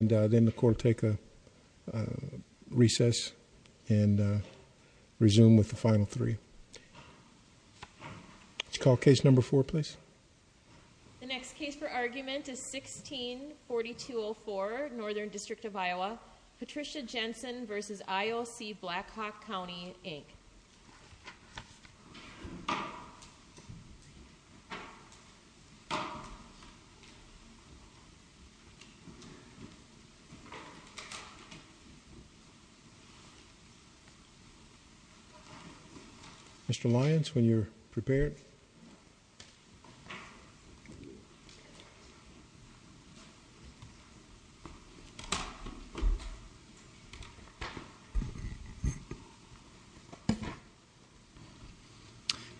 And then the court take a recess and resume with the final three. It's called case number four, please. The next case for argument is 164204 Northern District of Iowa. Patricia Jensen versus IOC Black Hawk County Inc. Mr. Lyons, when you're prepared.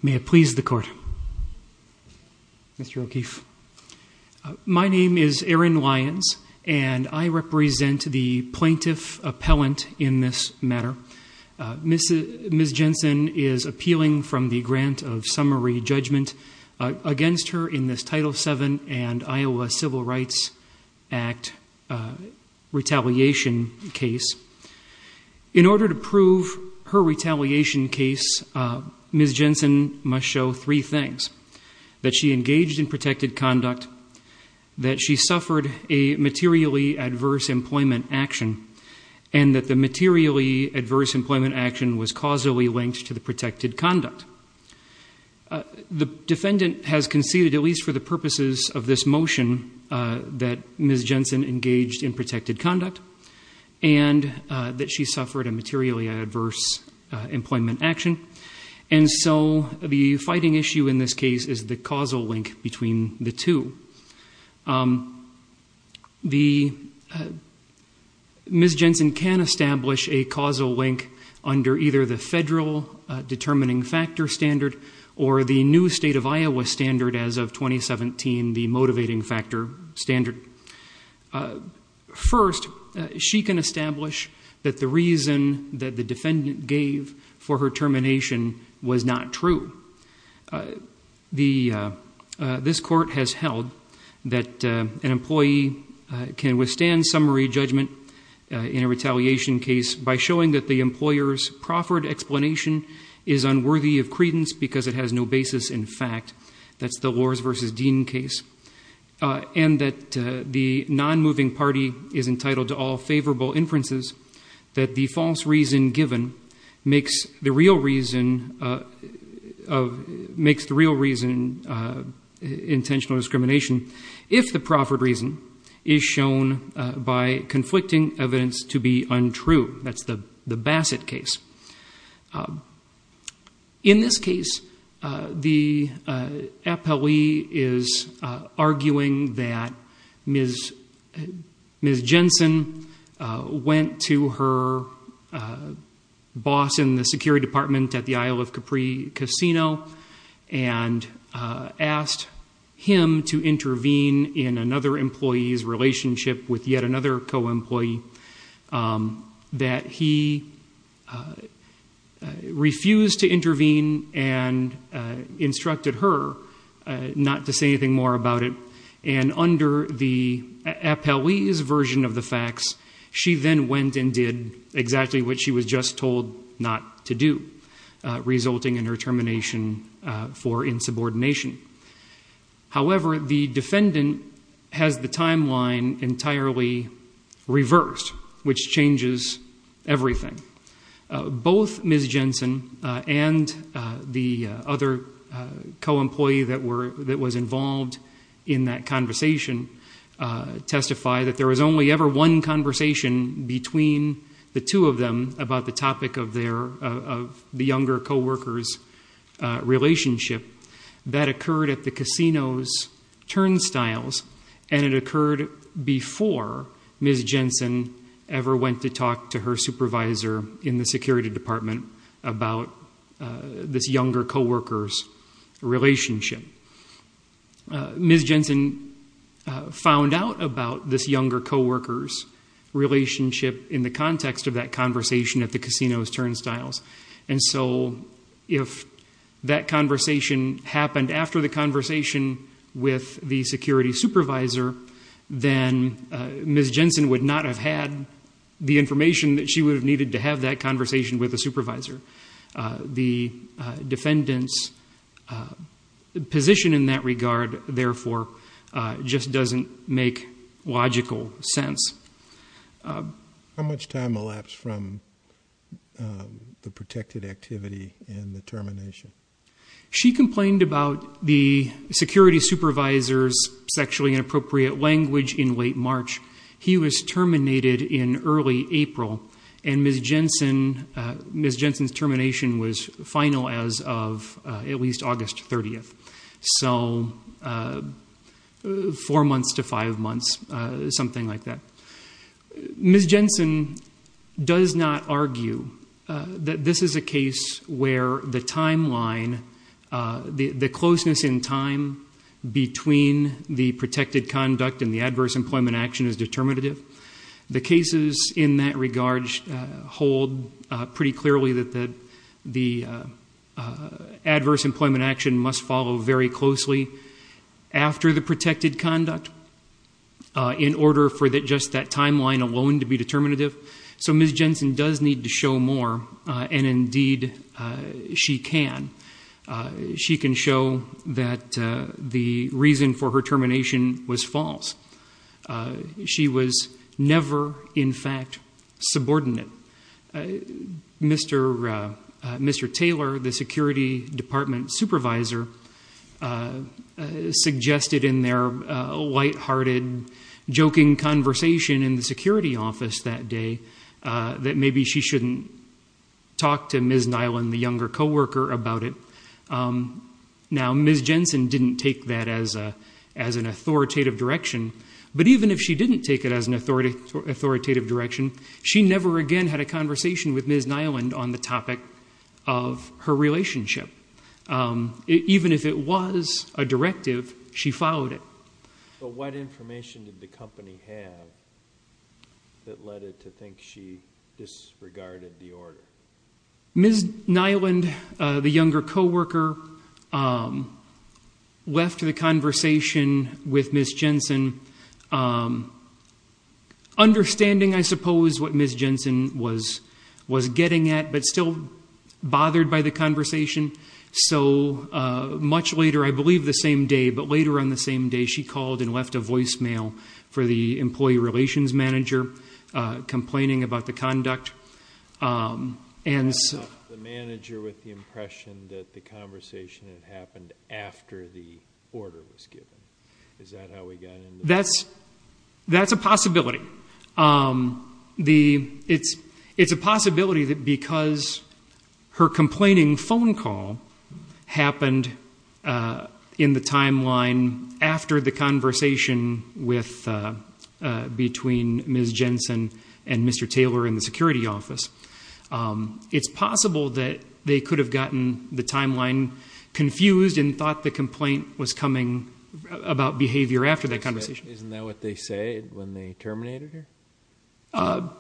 May it please the court. Mr. O'Keefe. My name is Aaron Lyons and I represent the plaintiff appellant in this matter. Ms. Jensen is appealing from the grant of summary judgment against her in this Title VII and Iowa Civil Rights Act retaliation case. In order to prove her retaliation case, Ms. Jensen must show three things. That she engaged in protected conduct, that she suffered a materially adverse employment action, and that the materially adverse employment action was causally linked to the protected conduct. The defendant has conceded, at least for the purposes of this motion, that Ms. Jensen engaged in protected conduct and that she suffered a materially adverse employment action. And so the fighting issue in this case is the causal link between the two. Ms. Jensen can establish a causal link under either the federal determining factor standard or the new state of Iowa standard as of 2017, the motivating factor standard. First, she can establish that the reason that the determination was not true. This court has held that an employee can withstand summary judgment in a retaliation case by showing that the employer's proffered explanation is unworthy of credence because it has no basis in fact. That's the Lors versus Dean case. And that the non-moving party is entitled to all favorable inferences that the false reason given makes the real reason intentional discrimination if the proffered reason is shown by conflicting evidence to be untrue. That's the Bassett case. In this case, the appellee is arguing that Ms. Jensen went to her boss in the security department at the Isle of Capri Casino and asked him to intervene in another employee's relationship with yet another co-employee that he refused to intervene and instructed her not to say anything more about it. And under the appellee's version of the facts, she then went and did exactly what she was just told not to do, resulting in her termination for insubordination. However, the defendant has the timeline entirely reversed, which changes everything. Both Ms. Jensen and the other co-employee that was involved in that conversation testify that there was only ever one conversation between the two of them about the topic of the younger co-worker's relationship. That occurred at the casino's turnstiles and it occurred before Ms. Jensen ever went to talk to her supervisor in the security department about this younger co-worker's relationship. Ms. Jensen found out about this younger co-worker's relationship in the context of that conversation at the casino's turnstiles. And so if that conversation happened after the conversation with the security supervisor, then Ms. Jensen would not have had the information that she would have needed to have that conversation with a just doesn't make logical sense. How much time elapsed from the protected activity and the termination? She complained about the security supervisor's sexually inappropriate language in late March. He was terminated in early April and Ms. Jensen's termination was final as of at least August 30th. So four months to five months, something like that. Ms. Jensen does not argue that this is a case where the timeline, the closeness in time between the protected conduct and the adverse employment action is determinative. The cases in that regard hold pretty clearly that the adverse employment action must follow very closely after the protected conduct in order for just that timeline alone to be determinative. So Ms. Jensen does need to show more and indeed she can. She can show that the reason for her termination was false. She was never in fact subordinate. Mr. Taylor, the security department supervisor, suggested in their light-hearted joking conversation in the security office that day that maybe she shouldn't talk to Ms. Nyland, the younger co-worker, about it. Now Ms. Jensen didn't take that as an authoritative direction, but even if she didn't take it as an authoritative direction, she never again had a conversation with Ms. Nyland on the topic of her relationship. Even if it was a directive, she followed it. But what information did the company have that led it to think she disregarded the order? Ms. Nyland, the younger co-worker, left the understanding, I suppose, what Ms. Jensen was was getting at, but still bothered by the conversation. So much later, I believe the same day, but later on the same day, she called and left a voicemail for the employee relations manager complaining about the conduct. And the manager with the impression that the conversation happened after the order was given. Is that how we got in? That's a possibility. It's a possibility that because her complaining phone call happened in the timeline after the conversation between Ms. Jensen and Mr. Taylor in the office, they were confused and thought the complaint was coming about behavior after that conversation. Isn't that what they say when they terminated her?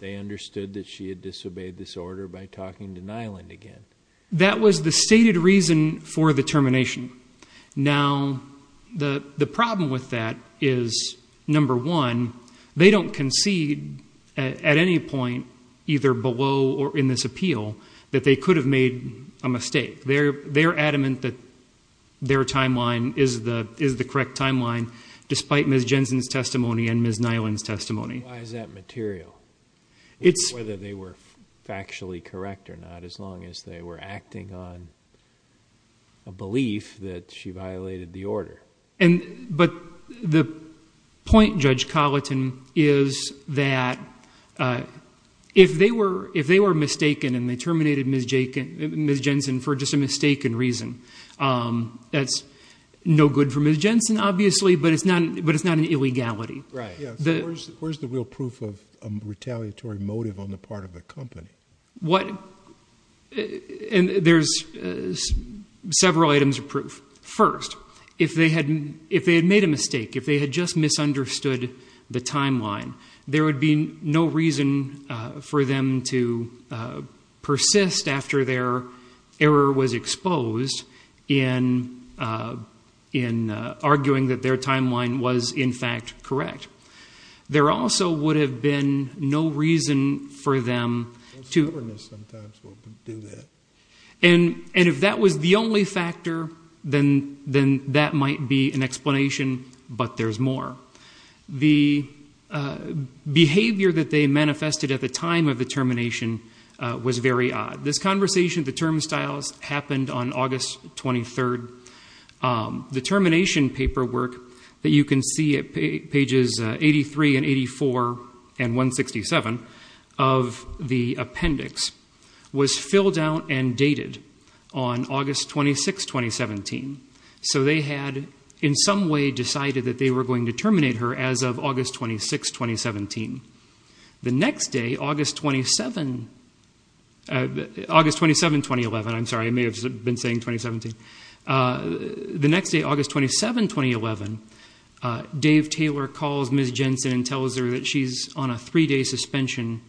They understood that she had disobeyed this order by talking to Nyland again. That was the stated reason for the termination. Now, the problem with that is, number one, they don't concede at any point, either below or in this appeal, that they could have made a mistake. They're adamant that their timeline is the correct timeline, despite Ms. Jensen's testimony and Ms. Nyland's testimony. Why is that material? Whether they were factually correct or not, as long as they were acting on a belief that she violated the order. The point, Judge Colleton, is that if they were mistaken and they terminated Ms. Jensen for just a mistaken reason, that's no good for Ms. Jensen, obviously, but it's not an illegality. Where's the real proof of a retaliatory motive on the part of the company? There's several items of proof. First, if they had made a mistake, if they had just misunderstood the timeline, there would be no reason for them to persist after their error was exposed in arguing that their timeline was, in fact, correct. There also would have been no reason for them to... And if that was the only factor, then that might be an explanation, but there's more. The behavior that they manifested at the time of the termination was very odd. This conversation, the term styles, happened on August 23rd. The termination paperwork that you can see at pages 83 and 84 and 167 of the appendix was filled out and dated on August 26th, 2017, so they had, in some way, decided that they were going to terminate her as of August 26th, 2017. The next day, August 27th, 2011... I'm sorry, I may have been saying 2017. The next day, August 27th, 2011, Dave Taylor calls Ms. Jensen and tells her that she's on a three-day suspension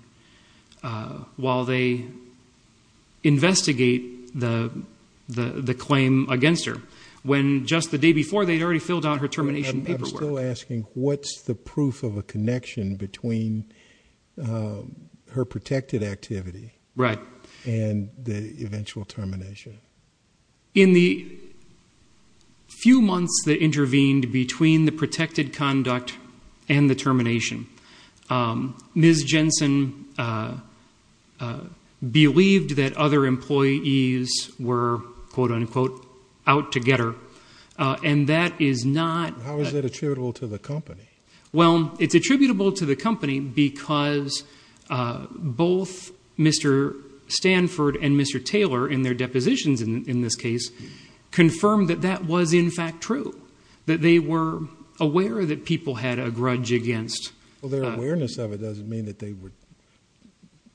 while they investigate the claim against her, when just the day before they had already filled out her termination paperwork. I'm still asking, what's the proof of a connection between her protected activity and the eventual termination? In the few months that intervened between the protected conduct and the termination, Ms. Jensen believed that other employees were, quote-unquote, out to get her, and that is not... How is that attributable to the company? Well, it's attributable to the company because both Mr. Stanford and Mr. Taylor, in their depositions in this case, confirmed that that was, in fact, true, that they were aware that people had a grudge against... Well, their awareness of it doesn't mean that they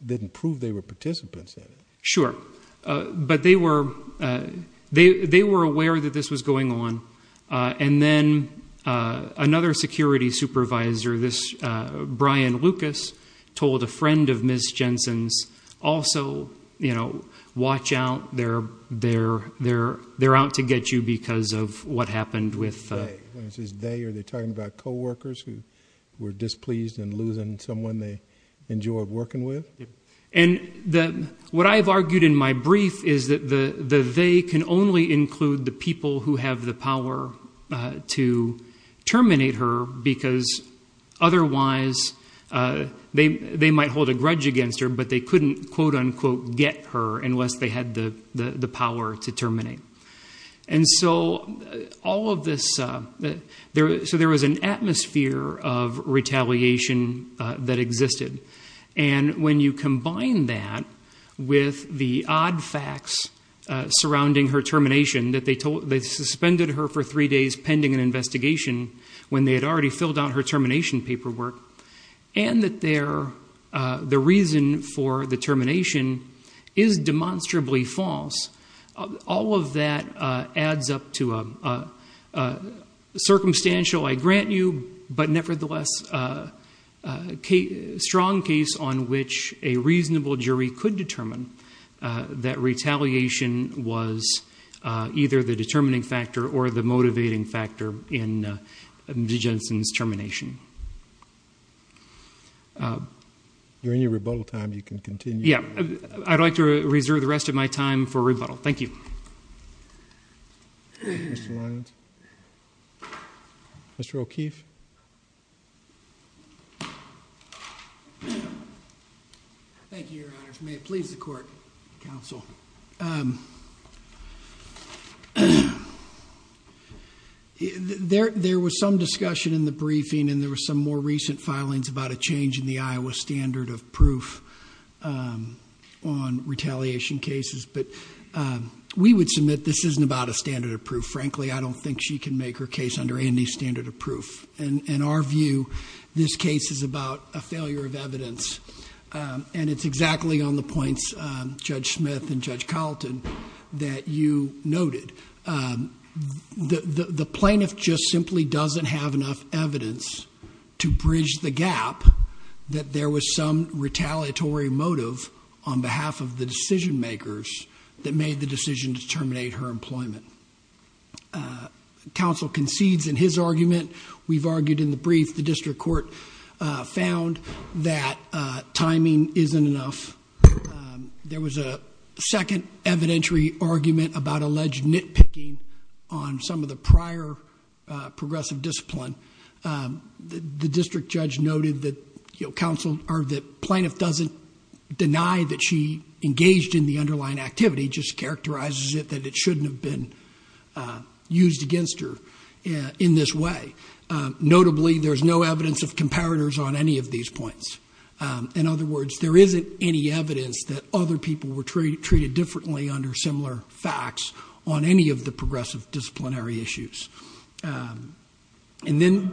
didn't prove they were participants in it. Sure, but they were aware that this was going on, and then another security supervisor, this Brian Lucas, told a friend of Ms. Jensen's, also watch out, they're out to get you because of what happened with... When he says they, are they talking about coworkers who were displeased in losing someone they enjoyed working with? And what I've argued in my brief is that they can only include the people who have the power to terminate her because otherwise they might hold a grudge against her, but they couldn't, quote-unquote, get her unless they had the power to terminate. And so all of this... So there was an atmosphere of retaliation that existed. And when you combine that with the odd facts surrounding her termination, that they suspended her for three days pending an investigation when they had already filled out her termination paperwork, and that the reason for the termination is demonstrably false, all of that adds up to a circumstantial, I grant you, but nevertheless strong case on which a reasonable jury could determine that retaliation was either the determining factor or the motivating factor in Ms. Jensen's termination. During your rebuttal time, you can continue. Yeah. I'd like to reserve the rest of my time for rebuttal. Thank you. Mr. Lyons. Mr. O'Keefe. Thank you, Your Honors. May it please the Court, Counsel. There was some discussion in the briefing and there were some more recent filings about a change in the Iowa standard of proof on retaliation cases, but we would submit this isn't about a standard of proof. Frankly, I don't think she can make her case under any standard of proof. In our view, this case is about a failure of evidence. And it's exactly on the points, Judge Smith and Judge Carlton, that you noted. The plaintiff just simply doesn't have enough evidence to bridge the gap that there was some retaliatory motive on behalf of the decision makers that made the decision to terminate her employment. Counsel concedes in his argument. We've argued in the brief. The district court found that timing isn't enough. There was a second evidentiary argument about alleged nitpicking on some of the prior progressive discipline. The district judge noted that plaintiff doesn't deny that she engaged in the underlying activity, just characterizes it that it shouldn't have been used against her in this way. Notably, there's no evidence of comparators on any of these points. In other words, there isn't any evidence that other people were treated differently under similar facts on any of the progressive disciplinary issues. The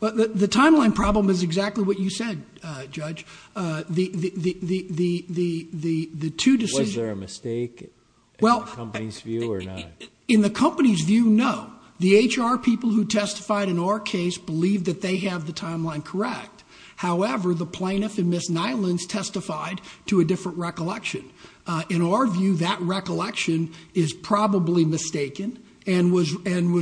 timeline problem is exactly what you said, Judge. The two decisions... Was there a mistake in the company's view or not? In the company's view, no. The HR people who testified in our case believed that they have the timeline correct. However, the plaintiff and Ms. Nylund testified to a different recollection. In our view, that recollection is probably mistaken and was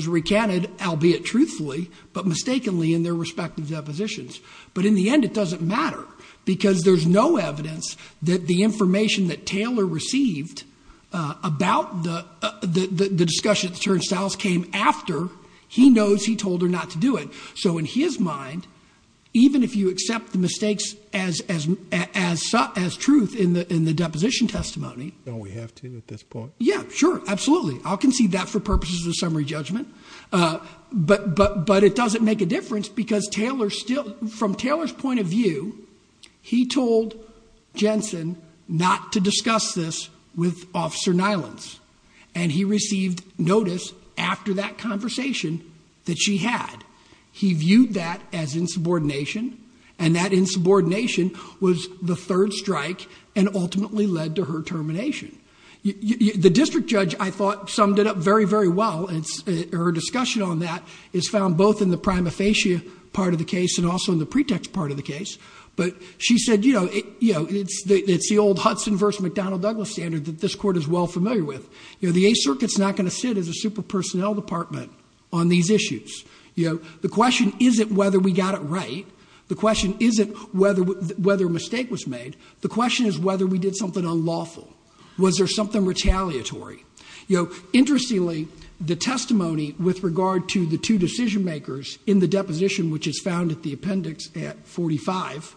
recanted, albeit truthfully, but mistakenly in their respective depositions. But in the end, it doesn't matter because there's no evidence that the information that he knows he told her not to do it. So in his mind, even if you accept the mistakes as truth in the deposition testimony... Don't we have to at this point? Yeah, sure, absolutely. I'll concede that for purposes of summary judgment, but it doesn't make a difference because from Taylor's point of view, he told Jensen not to discuss this with Officer Nylund's. And he received notice after that conversation that she had. He viewed that as insubordination and that insubordination was the third strike and ultimately led to her termination. The district judge, I thought, summed it up very, very well. And her discussion on that is found both in the prima facie part of the case and also in the pretext part of the case. But she said, you know, it's the old Hudson versus McDonnell Douglas standard that this court is well familiar with. You know, the Eighth Circuit's not going to sit as a super personnel department on these issues. You know, the question isn't whether we got it right. The question isn't whether a mistake was made. The question is whether we did something unlawful. Was there something retaliatory? You know, interestingly, the testimony with regard to the two decision makers in the deposition, which is found at the appendix at 45,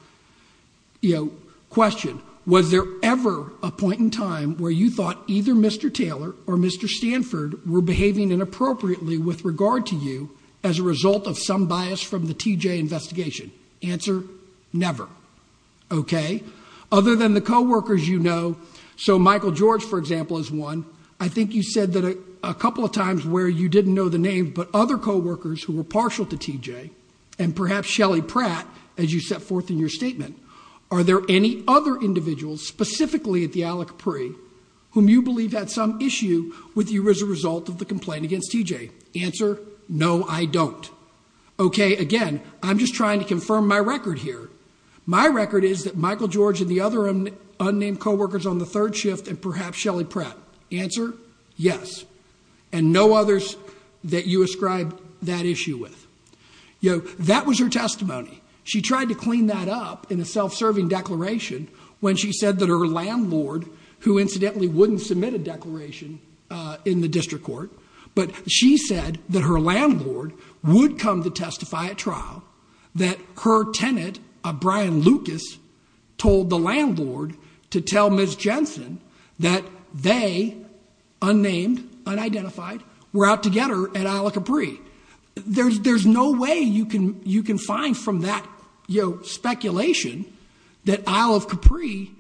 you know, question. Was there ever a point in time where you thought either Mr. Taylor or Mr. Stanford were behaving inappropriately with regard to you as a result of some bias from the TJ investigation? Answer, never. Okay? Other than the co-workers you know, so Michael George, for example, is one. I think you said that a couple of times where you didn't know the name but other co-workers who were partial to TJ and perhaps Shelly Pratt as you set forth in your statement. Are there any other individuals specifically at the Al Capri whom you believe had some issue with you as a result of the complaint against TJ? Answer, no, I don't. Okay, again, I'm just trying to confirm my record here. My record is that Michael George and the other unnamed co-workers on the third shift and perhaps Shelly Pratt. Answer, yes. And no others that you ascribe that issue with. You know, that was her testimony. She tried to clean that up in a self-serving declaration when she said that her landlord, who incidentally wouldn't submit a declaration in the district court, but she said that her landlord would come to testify at trial, that her tenant, Brian Lucas, told the landlord to tell Ms. Jensen that they, unnamed, unidentified, were out to get her at Al Capri. There's no way you can find from that speculation that Al Capri,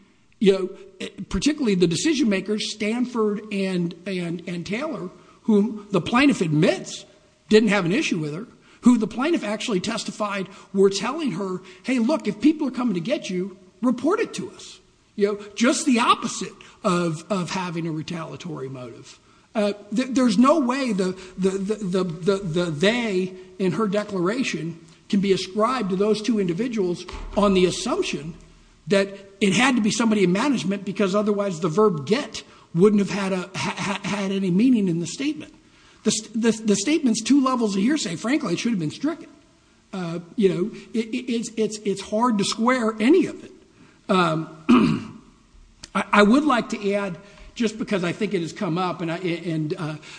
particularly the decision-makers Stanford and Taylor, whom the plaintiff admits didn't have an issue with her, who the plaintiff actually testified were telling her, hey, look, if people are coming to get you, report it to us. Just the opposite of having a retaliatory motive. There's no way the they in her declaration can be ascribed to those two individuals on the assumption that it had to be somebody in management because otherwise the verb get wouldn't have had any meaning in the statement. The statement's two levels of hearsay. Frankly, it should have been stricken. It's hard to square any of it. I would like to add, just because I think it has come up, and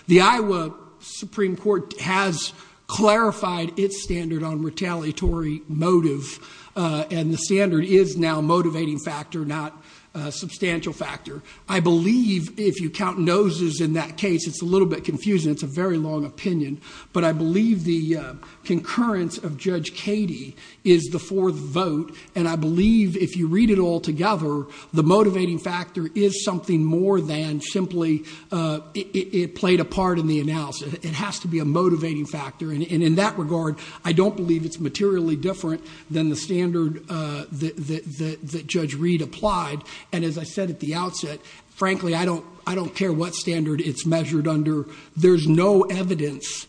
the Iowa Supreme Court has clarified its standard on retaliatory motive, and the standard is now a motivating factor, not a substantial factor. I believe, if you count noses in that case, it's a little bit confusing. It's a very long opinion, but I believe the concurrence of Judge Cady is the fourth vote, and I believe if you read it all together, the motivating factor is something more than simply it played a part in the analysis. It has to be a motivating factor, and in that regard, I don't believe it's materially different than the standard that Judge Reed applied, and as I said at the outset, frankly, I don't care what standard it's measured under. There's no evidence,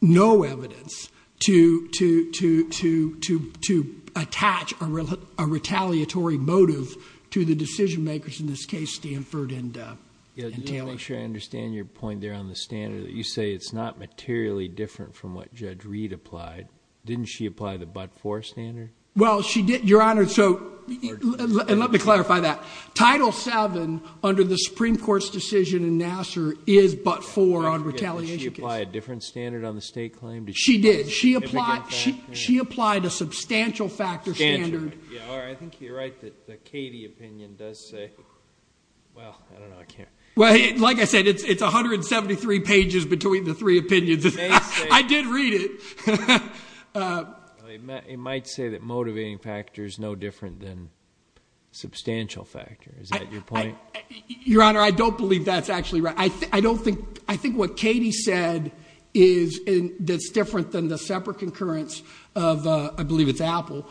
no evidence to attach a retaliatory motive to the decision-makers in this case, Stanford and Taylor. Yeah, just to make sure I understand your point there on the standard, that you say it's not materially different from what Judge Reed applied. Didn't she apply the but-for standard? Well, she did, Your Honor, and let me clarify that. Title VII under the Supreme Court's decision in Nassar is but-for on retaliation cases. Did she apply a different standard on the state claim? She did. She applied a substantial factor standard. I think you're right that the Cady opinion does say, well, I don't know. Like I said, it's 173 pages between the three opinions. I did read it. It might say that motivating factor is no different than substantial factor. Is that your point? Your Honor, I don't believe that's actually right. I think what Cady said is different than the separate concurrence of, I believe it's Apple.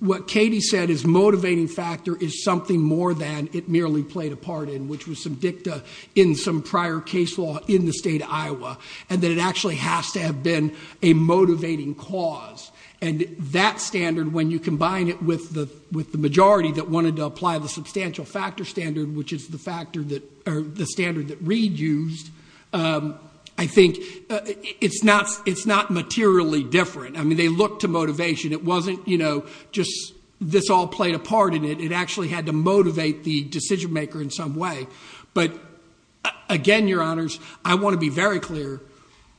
What Cady said is motivating factor is something more than it merely played a part in, which was some dicta in some prior case law in the state of Iowa, and that it actually has to have been a motivating cause. That standard, when you combine it with the majority that wanted to apply the substantial factor standard, which is the standard that Reed used, I think it's not materially different. They looked to motivation. It wasn't just this all played a part in it. It actually had to motivate the decision maker in some way. But again, Your Honors, I want to be very clear,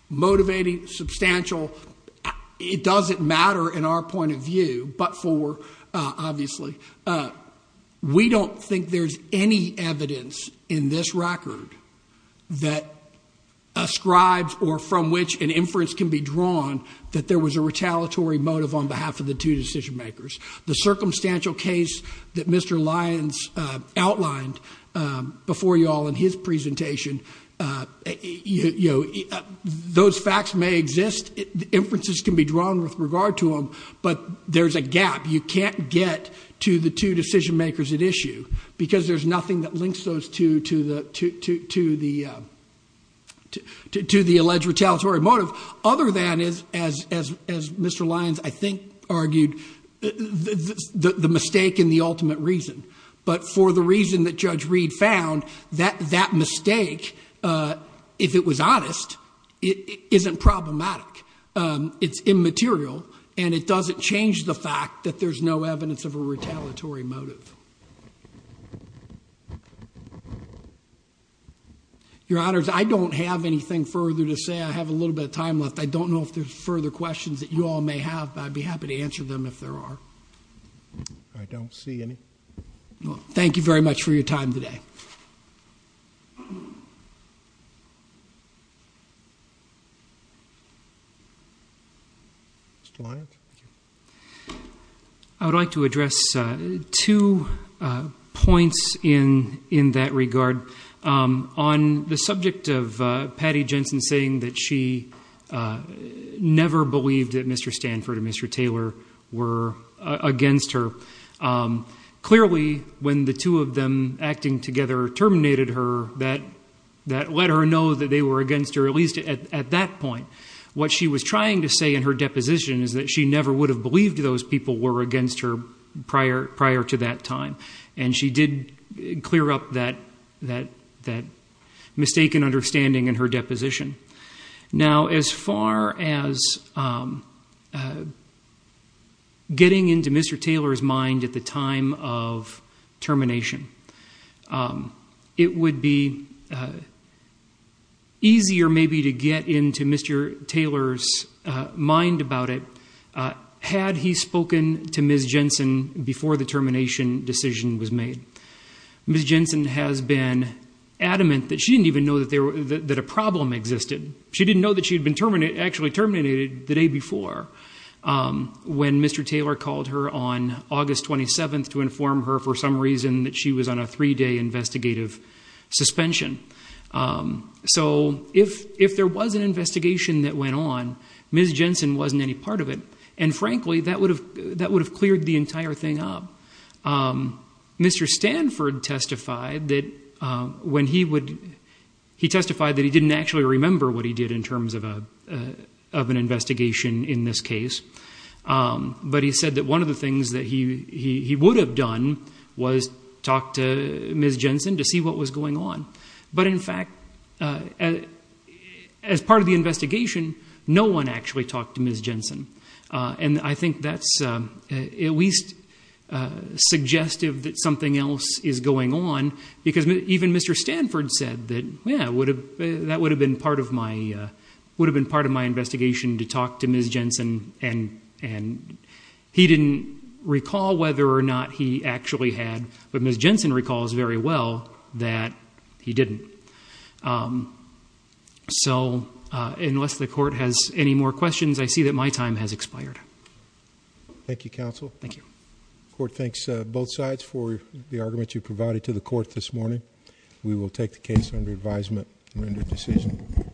motivating, substantial, it doesn't matter in our point of view, but for, obviously, we don't think there's any evidence in this record that ascribes or from which an inference can be drawn that there was a retaliatory motive on behalf of the two decision makers. The circumstantial case that Mr. Lyons outlined before you all in his presentation, those facts may exist, inferences can be drawn with regard to them, but there's a gap. You can't get to the two decision makers at issue because there's nothing that links those to the alleged retaliatory motive other than, as Mr. Lyons, I think, argued, the mistake in the ultimate reason. But for the reason that Judge Reed found, that mistake, if it was honest, isn't problematic. It's immaterial and it doesn't change the fact that there's no evidence of a retaliatory motive. Your Honors, I don't have anything further to say. I have a little bit of time left. I don't know if there's further questions that you all may have, but I'd be happy to answer them if there are. I don't see any. Thank you very much for your time today. Mr. Lyons? I would like to address two points in that regard. On the subject of Patty Jensen saying that she never believed that Mr. Stanford and Mr. Taylor were against her. Clearly, when the two of them acting together terminated her, that let her know that they were against her, at least at that point. What she was trying to say in her deposition is that she never would have believed those people were against her prior to that time. She did clear up that mistaken understanding in her deposition. Now as far as getting into Mr. Taylor's mind at the time of termination, it would be easier maybe to get into Mr. Taylor's mind about it had he spoken to Ms. Jensen before the termination decision was made. Ms. Jensen has been adamant that she didn't even know that a problem existed. She didn't know that she had been actually terminated the day before when Mr. Taylor called her on August 27th to inform her for some reason that she was on a three-day investigative suspension. So if there was an investigation that went on, Ms. Jensen wasn't any part of it. And frankly, that would have cleared the entire thing up. Mr. Stanford testified that he didn't actually remember what he did in terms of an investigation in this case. But he said that one of the things that he would have done was talk to Ms. Jensen to see what was going on. But in fact, as part of the investigation, no one actually talked to Ms. Jensen. And I think that's at least suggestive that something else is going on. Because even Mr. Stanford said that, yeah, that would have been part of my investigation to talk to Ms. Jensen, and he didn't recall whether or not he actually had, but Ms. Jensen recalls very well that he didn't. So, unless the court has any more questions, I see that my time has expired. Thank you, counsel. Thank you. The court thanks both sides for the argument you provided to the court this morning. We will take the case under advisement and render a decision.